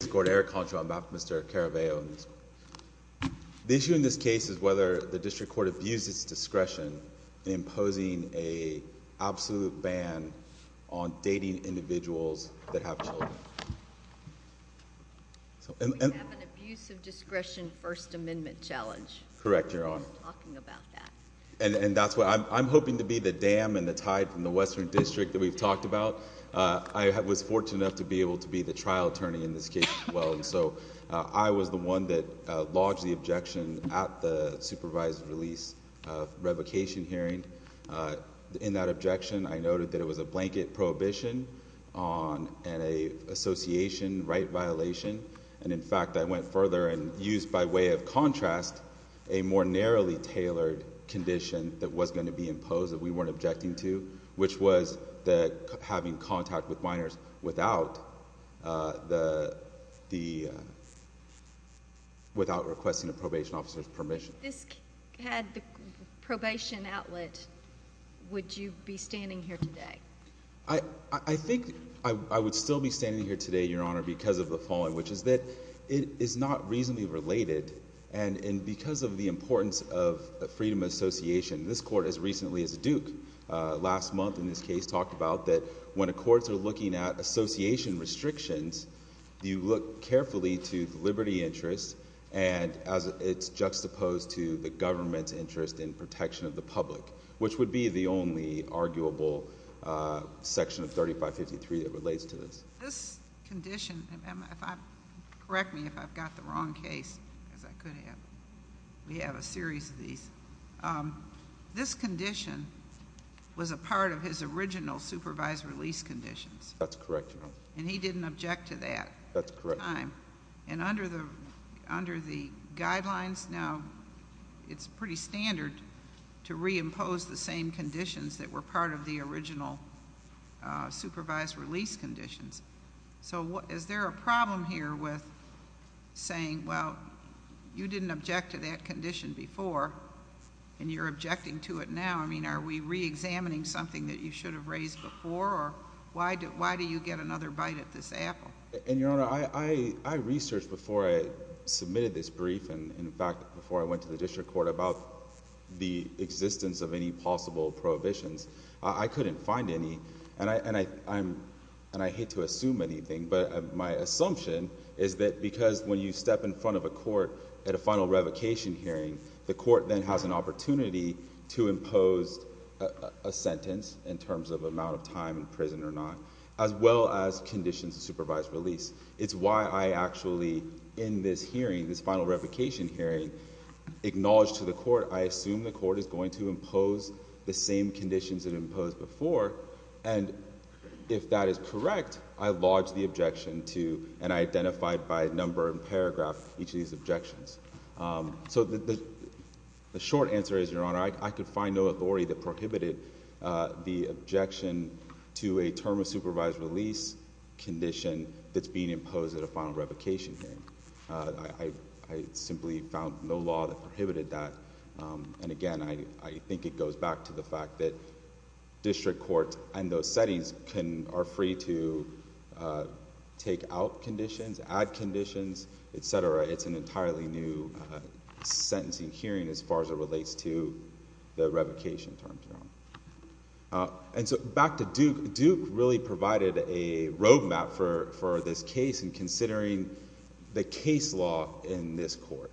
The issue in this case is whether the district court abuses discretion in imposing an absolute ban on dating individuals that have children. We have an abuse of discretion first amendment challenge. Correct, your honor. We've been talking about that. And that's what I'm hoping to be the dam and the tide from the western district that we've talked about. I was fortunate enough to be able to be the trial attorney in this case as well. So I was the one that lodged the objection at the supervised release revocation hearing. In that objection, I noted that it was a blanket prohibition and an association right violation. And in fact, I went further and used by way of contrast a more narrowly tailored condition that was going to be imposed that we weren't objecting to. Which was having contact with minors without requesting a probation officer's permission. If this had the probation outlet, would you be standing here today? I think I would still be standing here today, your honor, because of the following. Which is that it is not reasonably related and because of the importance of freedom association. This court as recently as Duke, last month in this case, talked about that when the courts are looking at association restrictions, you look carefully to the liberty interest and as it's juxtaposed to the government's interest in protection of the public. Which would be the only arguable section of 3553 that relates to this. This condition, correct me if I've got the wrong case, because I could have. We have a series of these. This condition was a part of his original supervised release conditions. That's correct, your honor. And he didn't object to that at the time. That's correct. And under the guidelines now, it's pretty standard to reimpose the same conditions that were part of the original supervised release conditions. So is there a problem here with saying, well, you didn't object to that condition before and you're objecting to it now. I mean, are we reexamining something that you should have raised before or why do you get another bite at this apple? And your honor, I researched before I submitted this brief and in fact before I went to the district court about the existence of any possible prohibitions. I couldn't find any, and I hate to assume anything, but my assumption is that because when you step in front of a court at a final revocation hearing, the court then has an opportunity to impose a sentence in terms of amount of time in prison or not, as well as conditions of supervised release. It's why I actually, in this hearing, this final revocation hearing, acknowledged to the court, I assume the court is going to impose the same conditions it imposed before. And if that is correct, I lodged the objection to, and I identified by number and paragraph each of these objections. So the short answer is, your honor, I could find no authority that prohibited the objection to a term of supervised release condition that's being imposed at a final revocation hearing. I simply found no law that prohibited that. And again, I think it goes back to the fact that district courts and those settings are free to take out conditions, add conditions, etc. It's an entirely new sentencing hearing as far as it relates to the revocation terms. And so back to Duke, Duke really provided a roadmap for this case in considering the case law in this court.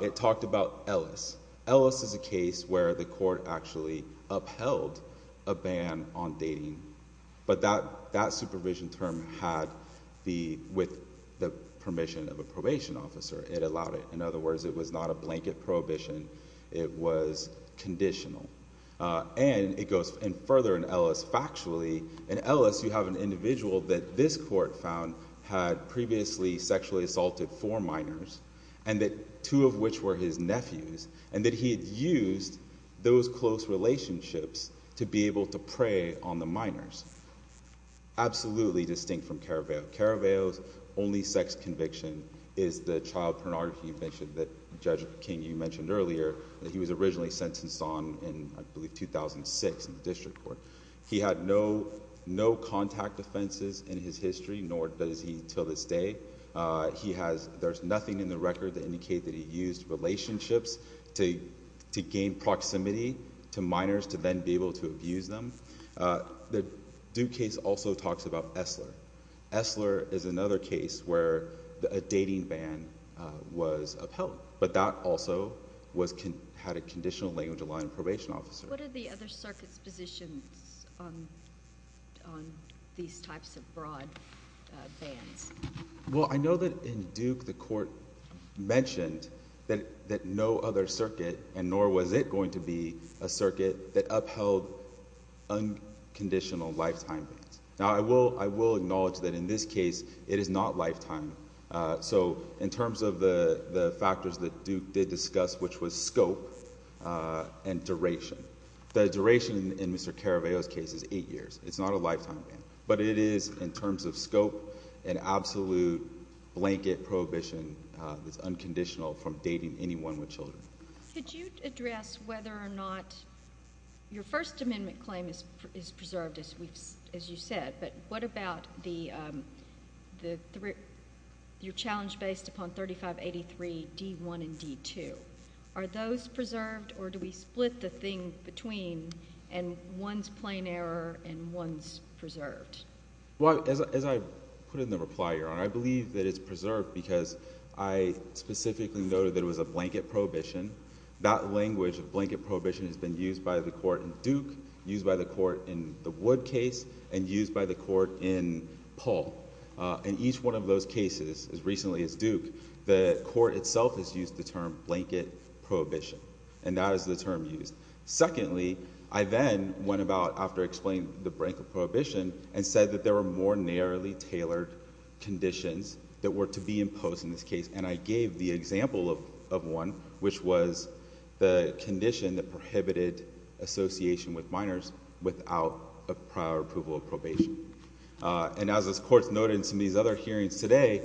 It talked about Ellis. Ellis is a case where the court actually upheld a ban on dating, but that supervision term had the, with the permission of a probation officer, it allowed it. In other words, it was not a blanket prohibition. It was conditional. And it goes further in Ellis, factually, in Ellis, you have an individual that this court found had previously sexually assaulted four minors, and that two of which were his nephews, and that he had used those close relationships to be able to prey on the minors. Absolutely distinct from Caraveo. Caraveo's only sex conviction is the child pornography that Judge King, you mentioned earlier, that he was originally sentenced on in, I believe, 2006 in the district court. He had no, no contact offenses in his history, nor does he until this day. He has, there's nothing in the record that indicate that he used relationships to, to gain proximity to minors to then be able to abuse them. The Duke case also talks about Esler. Esler is another case where a dating ban was upheld, but that also was, had a conditional language of law and probation officer. What are the other circuits positions on, on these types of broad bans? Well, I know that in Duke, the court mentioned that, that no other circuit, and nor was it going to be a circuit that upheld unconditional lifetime bans. Now I will, I will acknowledge that in this case, it is not lifetime. So in terms of the factors that Duke did discuss, which was scope and duration, the duration in Mr. Caraveo's case is eight years. It's not a lifetime ban, but it is in terms of scope and absolute blanket prohibition that's unconditional from dating anyone with children. Could you address whether or not your First Amendment claim is, is preserved as we've, as you said, but what about the, the, your challenge based upon 3583 D1 and D2? Are those preserved or do we split the thing between, and one's plain error and one's preserved? Well, as I, as I put it in the reply, Your Honor, I believe that it's preserved because I specifically noted that it was a blanket prohibition. That language of blanket prohibition has been used by the court in Duke, used by the court in the Wood case, and used by the court in Paul. Uh, in each one of those cases, as recently as Duke, the court itself has used the term blanket prohibition, and that is the term used. Secondly, I then went about, after explaining the blanket prohibition, and said that there were more narrowly tailored conditions that were to be imposed in this case. And I gave the example of, of one, which was the condition that prohibited association with minors without a prior approval of probation. And as this court's noted in some of these other hearings today,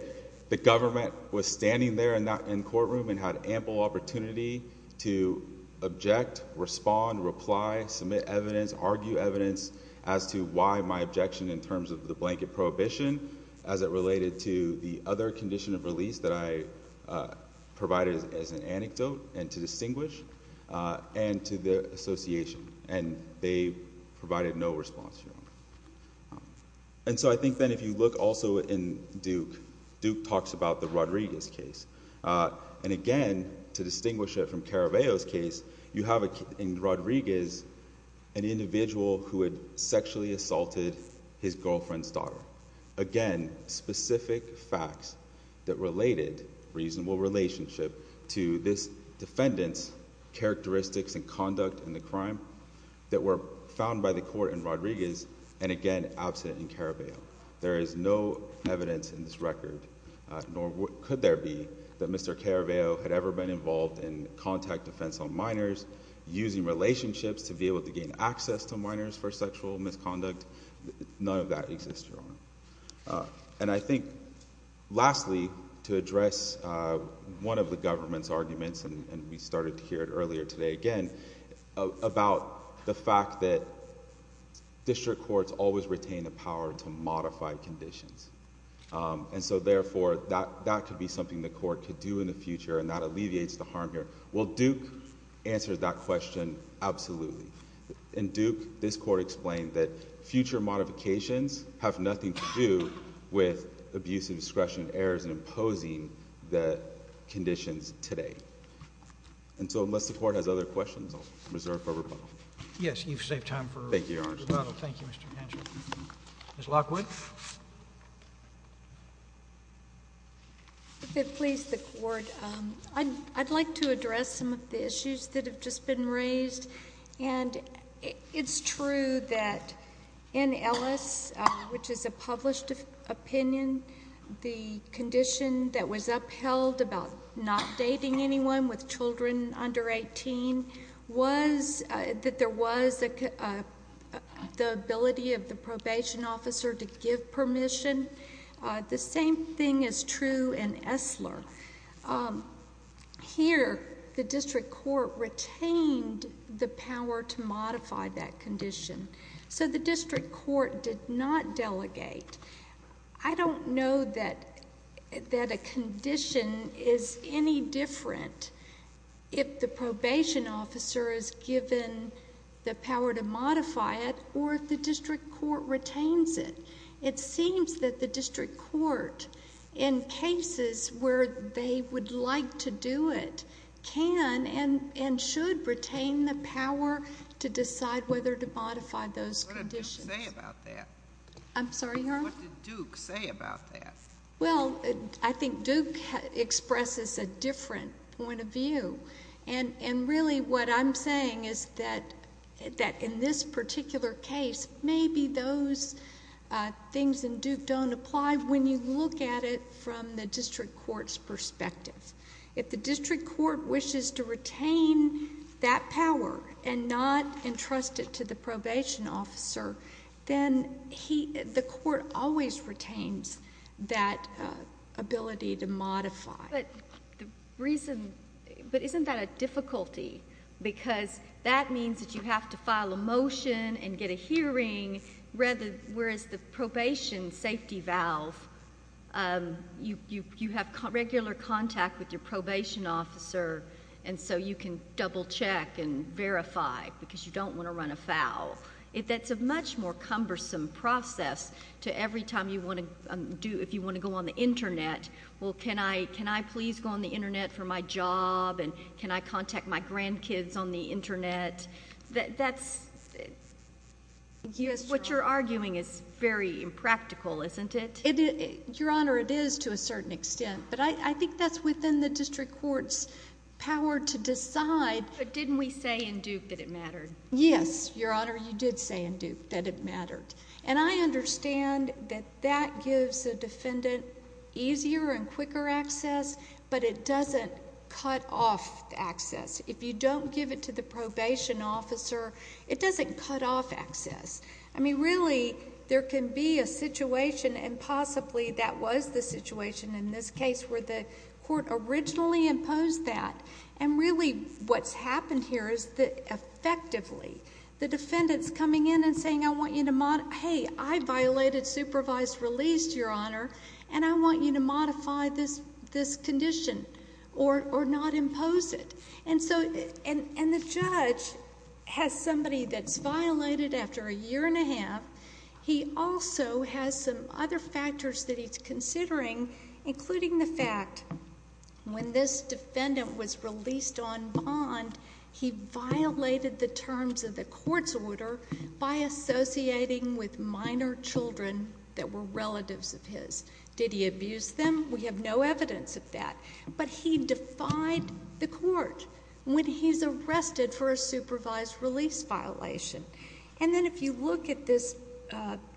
the government was standing there in that, in courtroom and had ample opportunity to object, respond, reply, submit evidence, argue evidence as to why my objection in terms of the blanket prohibition, as it related to the other condition of release that I, uh, provided as an anecdote, and to distinguish, uh, and to the association. And they provided no response, Your Honor. And so I think then if you look also in Duke, Duke talks about the Rodriguez case. Uh, and again, to distinguish it from Caraveo's case, you have in Rodriguez an individual who had sexually assaulted his girlfriend's daughter. Again, specific facts that related reasonable relationship to this defendant's characteristics and conduct in the crime that were found by the court in Rodriguez, and again, absent in Caraveo. There is no evidence in this record, nor could there be, that Mr. Caraveo had ever been involved in contact defense on minors, using relationships to be able to gain access to minors for sexual misconduct. None of that exists, Your Honor. And I think, lastly, to address, uh, one of the government's arguments, and we started to hear it earlier today again, about the fact that district courts always retain the modified conditions. Um, and so therefore, that, that could be something the court could do in the future and that alleviates the harm here. Will Duke answer that question? Absolutely. In Duke, this court explained that future modifications have nothing to do with abuse of discretion, errors in imposing the conditions today. And so unless the court has other questions, I'll reserve for rebuttal. Yes. You've saved time for rebuttal. Thank you, Your Honor. Thank you, Mr. Hancher. Ms. Lockwood? If it please the court, um, I'd, I'd like to address some of the issues that have just been raised, and it, it's true that in Ellis, uh, which is a published opinion, the condition that was upheld about not dating anyone with children under 18 was, uh, that there was a, uh, the ability of the probation officer to give permission. Uh, the same thing is true in Esler. Um, here, the district court retained the power to modify that condition. So the district court did not delegate. I don't know that, that a condition is any different if the probation officer is given the power to modify it or if the district court retains it. It seems that the district court, in cases where they would like to do it, can and, and should retain the power to decide whether to modify those conditions. What did Duke say about that? I'm sorry, Your Honor? What did Duke say about that? Well, I think Duke expresses a different point of view. And, and really what I'm saying is that, that in this particular case, maybe those, uh, things in Duke don't apply when you look at it from the district court's perspective. If the district court wishes to retain that power and not entrust it to the probation officer, then he, the court always retains that, uh, ability to modify. But the reason, but isn't that a difficulty? Because that means that you have to file a motion and get a hearing rather, whereas the probation safety valve, um, you, you, you have regular contact with your probation officer and so you can double check and verify because you don't want to run afoul. That's a much more cumbersome process to every time you want to do, if you want to go on the internet. Well, can I, can I please go on the internet for my job and can I contact my grandkids on the internet? That, that's, what you're arguing is very impractical, isn't it? Your Honor, it is to a certain extent, but I, I think that's within the district court's power to decide. But didn't we say in Duke that it mattered? Yes, Your Honor, you did say in Duke that it mattered. And I understand that that gives a defendant easier and quicker access, but it doesn't cut off access. If you don't give it to the probation officer, it doesn't cut off access. I mean, really, there can be a situation and possibly that was the situation in this case where the court originally imposed that. And really what's happened here is that effectively the defendant's coming in and saying, I want you to, hey, I violated supervised release, Your Honor, and I want you to modify this, this condition or, or not impose it. And so, and, and the judge has somebody that's violated after a year and a half. He also has some other factors that he's considering, including the fact when this defendant was associating with minor children that were relatives of his, did he abuse them? We have no evidence of that. But he defied the court when he's arrested for a supervised release violation. And then if you look at this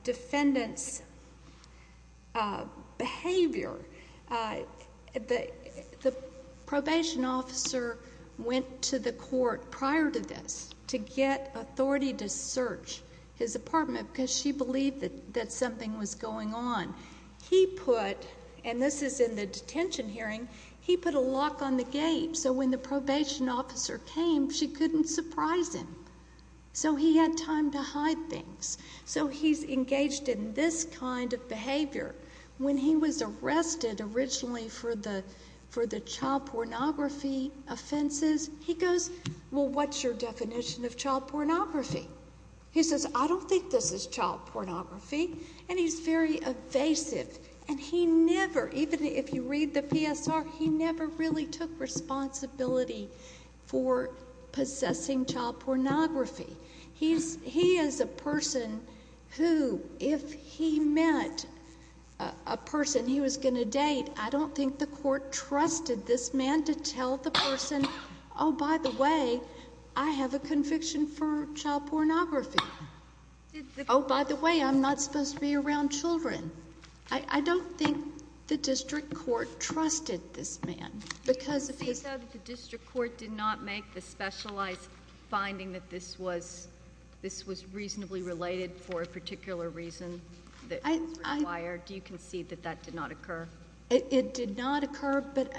defendant's behavior, the, the probation officer went to the court prior to this to get authority to search his apartment because she believed that, that something was going on. He put, and this is in the detention hearing, he put a lock on the gate so when the probation officer came, she couldn't surprise him. So he had time to hide things. So he's engaged in this kind of behavior. When he was arrested originally for the, for the child pornography offenses, he goes, well, what's your definition of child pornography? He says, I don't think this is child pornography. And he's very evasive. And he never, even if you read the PSR, he never really took responsibility for possessing child pornography. He's, he is a person who, if he met a person he was going to date, I don't think the court trusted this man to tell the person, oh, by the way, I have a conviction for child pornography. Oh, by the way, I'm not supposed to be around children. I don't think the district court trusted this man because of his- Because this was reasonably related for a particular reason that is required. Do you concede that that did not occur? It did not occur, but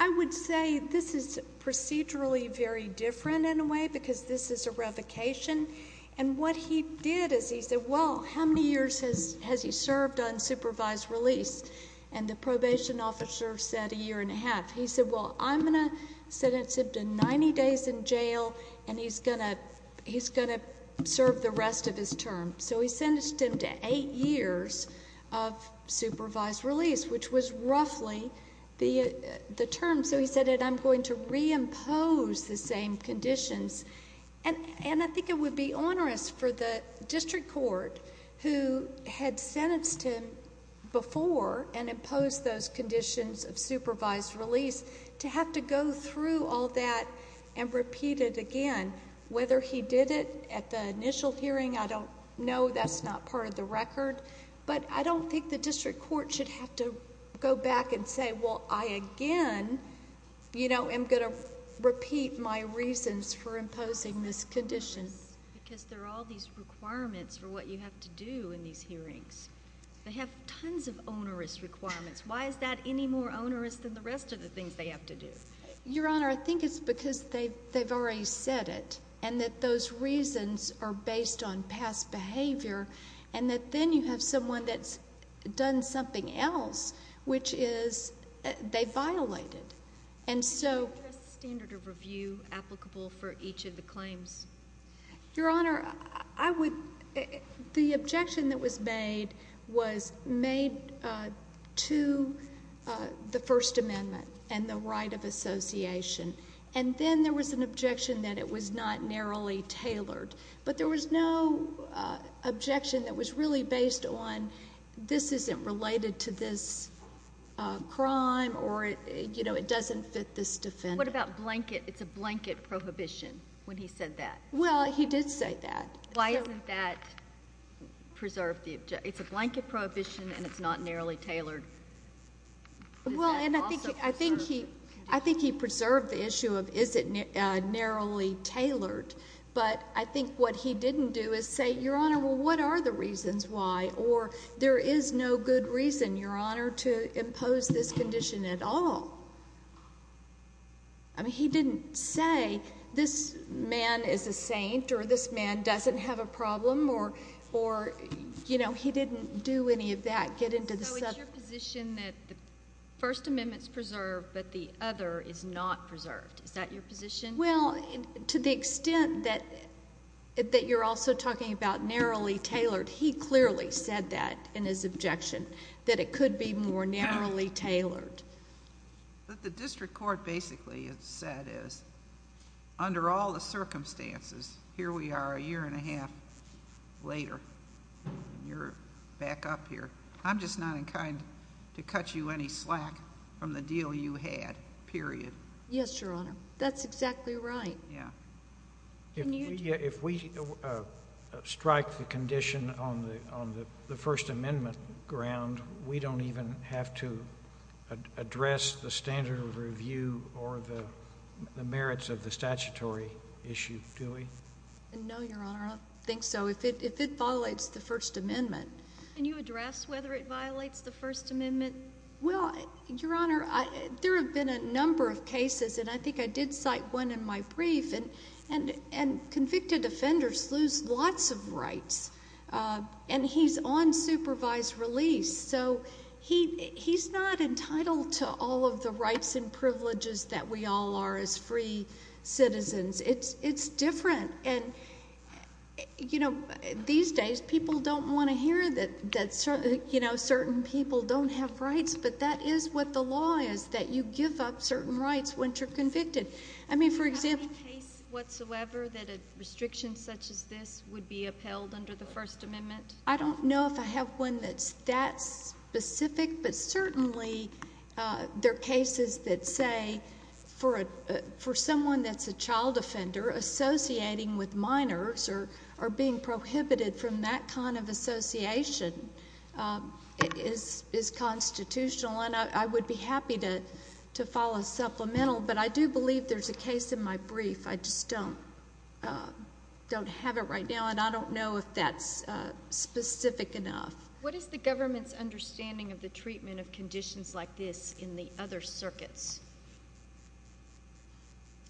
I would say this is procedurally very different in a way because this is a revocation. And what he did is he said, well, how many years has he served on supervised release? And the probation officer said a year and a half. He said, well, I'm going to sentence him to 90 days in jail and he's going to, he's going to serve the rest of his term. So he sentenced him to eight years of supervised release, which was roughly the term. So he said, and I'm going to reimpose the same conditions. And I think it would be onerous for the district court who had sentenced him before and imposed those conditions of supervised release to have to go through all that and repeat it again. Whether he did it at the initial hearing, I don't know. That's not part of the record. But I don't think the district court should have to go back and say, well, I again, you know, am going to repeat my reasons for imposing this condition. Because there are all these requirements for what you have to do in these hearings. They have tons of onerous requirements. Why is that any more onerous than the rest of the things they have to do? Your Honor, I think it's because they've already said it. And that those reasons are based on past behavior. And that then you have someone that's done something else, which is they violated. And so. Your Honor, the objection that was made was made to the First Amendment and the right of association. And then there was an objection that it was not narrowly tailored. But there was no objection that was really based on this isn't related to this crime or it doesn't fit this defendant. What about blanket? It's a blanket prohibition when he said that. Well, he did say that. Why isn't that preserved? It's a blanket prohibition and it's not narrowly tailored. Well, and I think he I think he I think he preserved the issue of is it narrowly tailored? But I think what he didn't do is say, Your Honor, well, what are the reasons why? Or there is no good reason, Your Honor, to impose this condition at all. I mean, he didn't say this man is a saint or this man doesn't have a problem or or, you know, he didn't do any of that. Get into the subject. So it's your position that the First Amendment is preserved, but the other is not preserved. Is that your position? Well, to the extent that that you're also talking about narrowly tailored, he clearly said that in his objection, that it could be more narrowly tailored. But the district court basically said is under all the circumstances, here we are a year and a half later, you're back up here. I'm just not inclined to cut you any slack from the deal you had, period. Yes, Your Honor. That's exactly right. Yeah. If we strike the condition on the on the First Amendment ground, we don't even have to address the standard of review or the merits of the statutory issue, do we? No, Your Honor. I don't think so. If it if it violates the First Amendment, can you address whether it violates the First Amendment? Well, Your Honor, there have been a number of cases, and I think I did cite one in my And convicted offenders lose lots of rights. And he's on supervised release. So he's not entitled to all of the rights and privileges that we all are as free citizens. It's different. And these days people don't want to hear that certain people don't have rights, but that is what the law is, that you give up certain rights when you're convicted. I mean for example... Do you know that a restriction such as this would be upheld under the First Amendment? I don't know if I have one that's that specific, but certainly there are cases that say for someone that's a child offender, associating with minors or being prohibited from that kind of association is constitutional. And I would be happy to follow supplemental, but I do believe there's a case in my brief. I just don't have it right now, and I don't know if that's specific enough. What is the government's understanding of the treatment of conditions like this in the other circuits?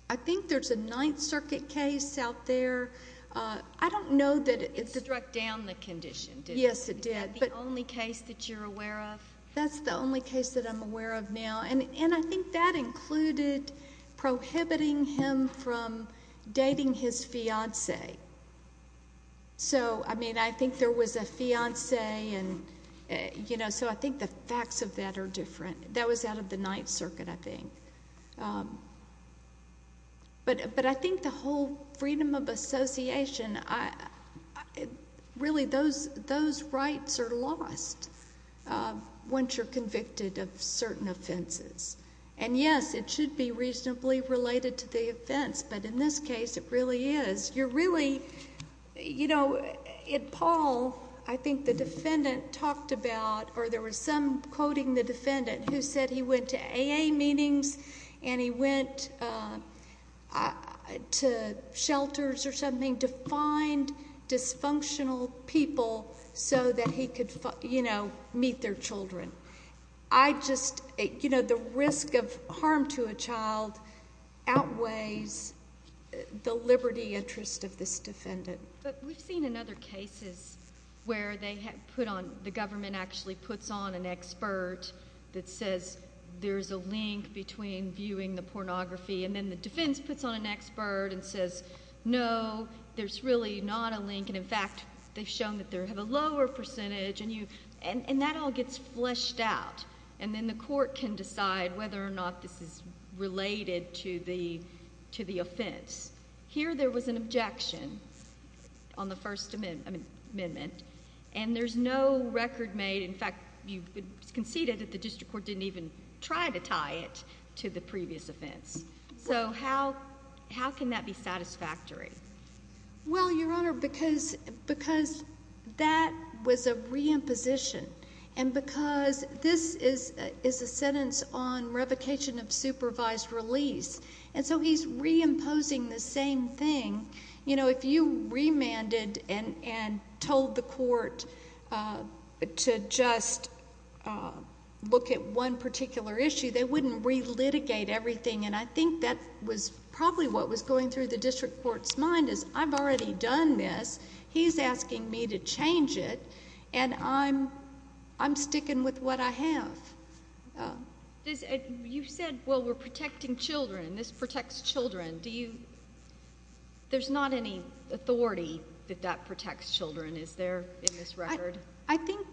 I think there's a Ninth Circuit case out there. I don't know that... It struck down the condition, didn't it? Yes, it did. Is that the only case that you're aware of? That's the only case that I'm aware of now. I think that included prohibiting him from dating his fiancee. I think there was a fiancee, so I think the facts of that are different. That was out of the Ninth Circuit, I think. But I think the whole freedom of association, really those rights are lost once you're convicted of certain offenses. And yes, it should be reasonably related to the offense, but in this case it really is. You're really... You know, in Paul, I think the defendant talked about, or there was some quoting the defendant who said he went to AA meetings and he went to shelters or something to find dysfunctional people so that he could meet their children. I just... You know, the risk of harm to a child outweighs the liberty interest of this defendant. But we've seen in other cases where they put on... the government actually puts on an expert that says there's a link between viewing the pornography, and then the defense puts on an expert and says, no, there's really not a link, and in fact, they've shown that that was a re-imposition. And because this is a sentence on revocation of supervised release, and so he's re-imposing the same thing. You know, if you remanded and told the court to just look at one particular issue, they wouldn't re-litigate everything. And I think that was probably what was going through the district court's mind, is I've already done this. He's asking me to change it, and I'm sticking with what I have. You said, well, we're protecting children, this protects children. There's not any authority that that protects children, is there, in this record? I think...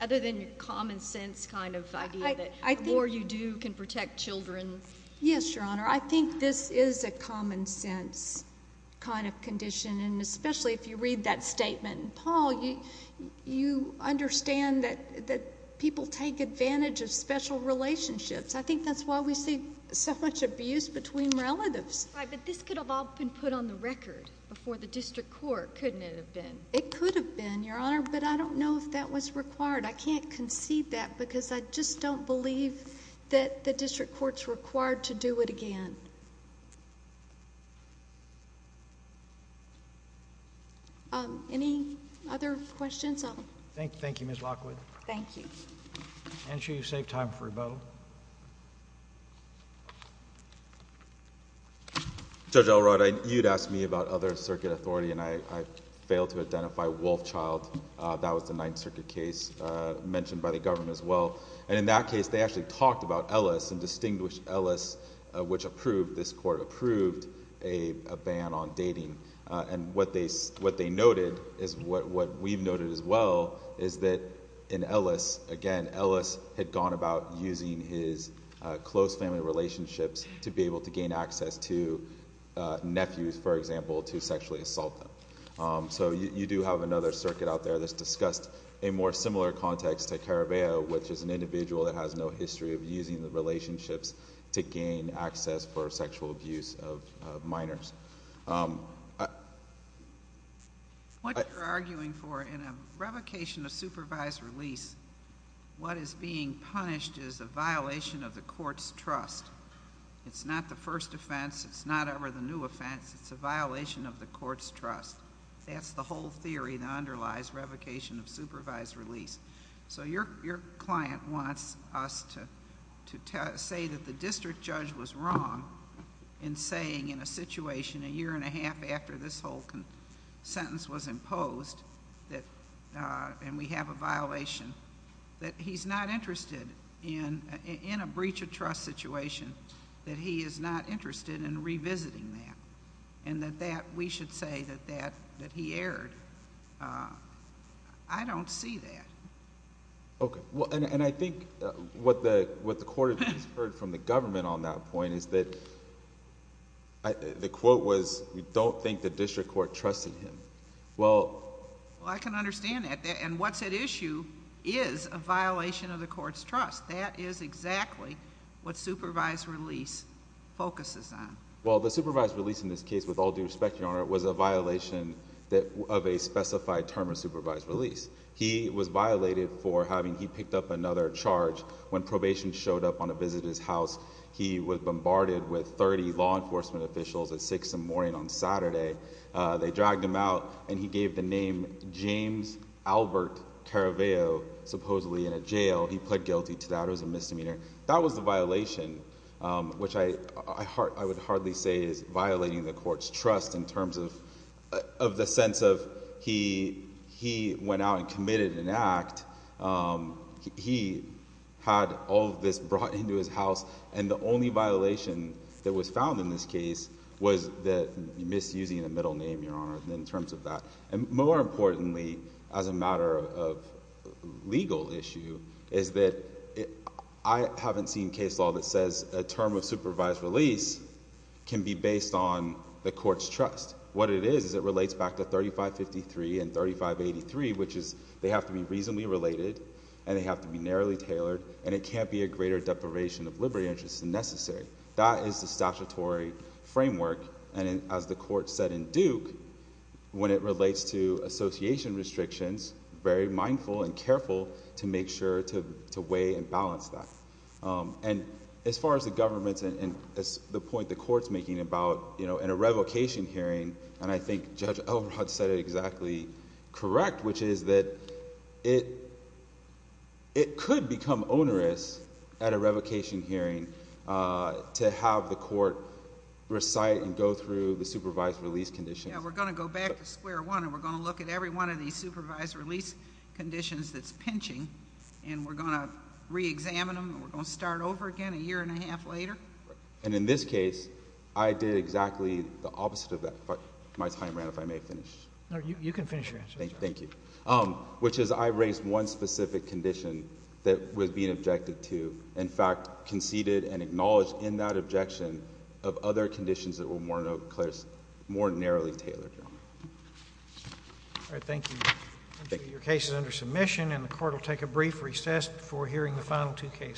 Other than your common sense kind of idea that the more you do can protect children. Yes, Your Honor. I think this is a common sense kind of condition, and especially if you read that statement in Paul, you understand that people take advantage of special relationships. I think that's why we see so much abuse between relatives. Right, but this could have all been put on the record before the district court, couldn't it have been? It could have been, Your Honor, but I don't know if that was required. I can't concede that, because I just don't believe that the district court's required to do it again. Any other questions? Thank you, Ms. Lockwood. Thank you. I'm going to make sure you save time for a bow. Judge Elrod, you had asked me about other circuit authority, and I failed to identify Wolfchild. That was the Ninth Circuit case mentioned by the government as well, and in that case, they actually talked about Ellis, and distinguished Ellis, which approved, this court approved, a ban on dating. And what they noted, is what we've noted as well, is that in Ellis, again, Ellis had gone about using his close family relationships to be able to gain access to nephews, for example, to sexually assault them. So you do have another circuit out there that's discussed a more similar context to Caraveo, which is an individual that has no history of using the relationships to gain access for sexual abuse of minors. What you're arguing for in a revocation of supervised release, what is being punished is a violation of the court's trust. It's not the first offense, it's not ever the new offense, it's a violation of the court's trust. That's the whole theory that underlies revocation of supervised release. So your client wants us to say that the district judge was wrong in saying in a situation a year and a half after this whole sentence was imposed, and we have a violation, that he's not interested in a breach of trust situation, that he is not interested in revisiting that, and that we should say that he erred. I don't see that. Okay. Well, and I think what the court has heard from the government on that point is that the quote was, we don't think the district court trusted him. Well, I can understand that, and what's at issue is a violation of the court's trust. That is exactly what supervised release focuses on. Well, the supervised release in this case, with all due respect, Your Honor, was a violation of a specified term of supervised release. He was violated for having, he picked up another charge when probation showed up on a visitor's house. He was bombarded with 30 law enforcement officials at 6 in the morning on Saturday. They dragged him out, and he gave the name James Albert Caraveo, supposedly in a jail. He pled guilty to that. It was a misdemeanor. That was the violation, which I would hardly say is violating the court's trust in terms of the sense of he went out and committed an act. He had all of this brought into his house, and the only violation that was found in this case was the misusing of the middle name, Your Honor, in terms of that. More importantly, as a matter of legal issue, is that I haven't seen case law that says a term of supervised release can be based on the court's trust. What it is, is it relates back to 3553 and 3583, which is they have to be reasonably related, and they have to be narrowly tailored, and it can't be a greater deprivation of liberty interest than necessary. That is the statutory framework, and as the court said in Duke, when it relates to association restrictions, very mindful and careful to make sure to weigh and balance that. As far as the government and the point the court's making about in a revocation hearing, and I think Judge Elrod said it exactly correct, which is that it could become onerous at a revocation hearing to have the court recite and go through the supervised release conditions. We're going to go back to square one, and we're going to look at every one of these and re-examine them, and we're going to start over again a year and a half later. In this case, I did exactly the opposite of that, but my time ran out, if I may finish. You can finish your answer. Thank you. Which is I raised one specific condition that was being objected to, in fact, conceded and acknowledged in that objection of other conditions that were more narrowly tailored. All right. Thank you. Your case is under submission, and the court will take a brief recess before hearing the final two cases.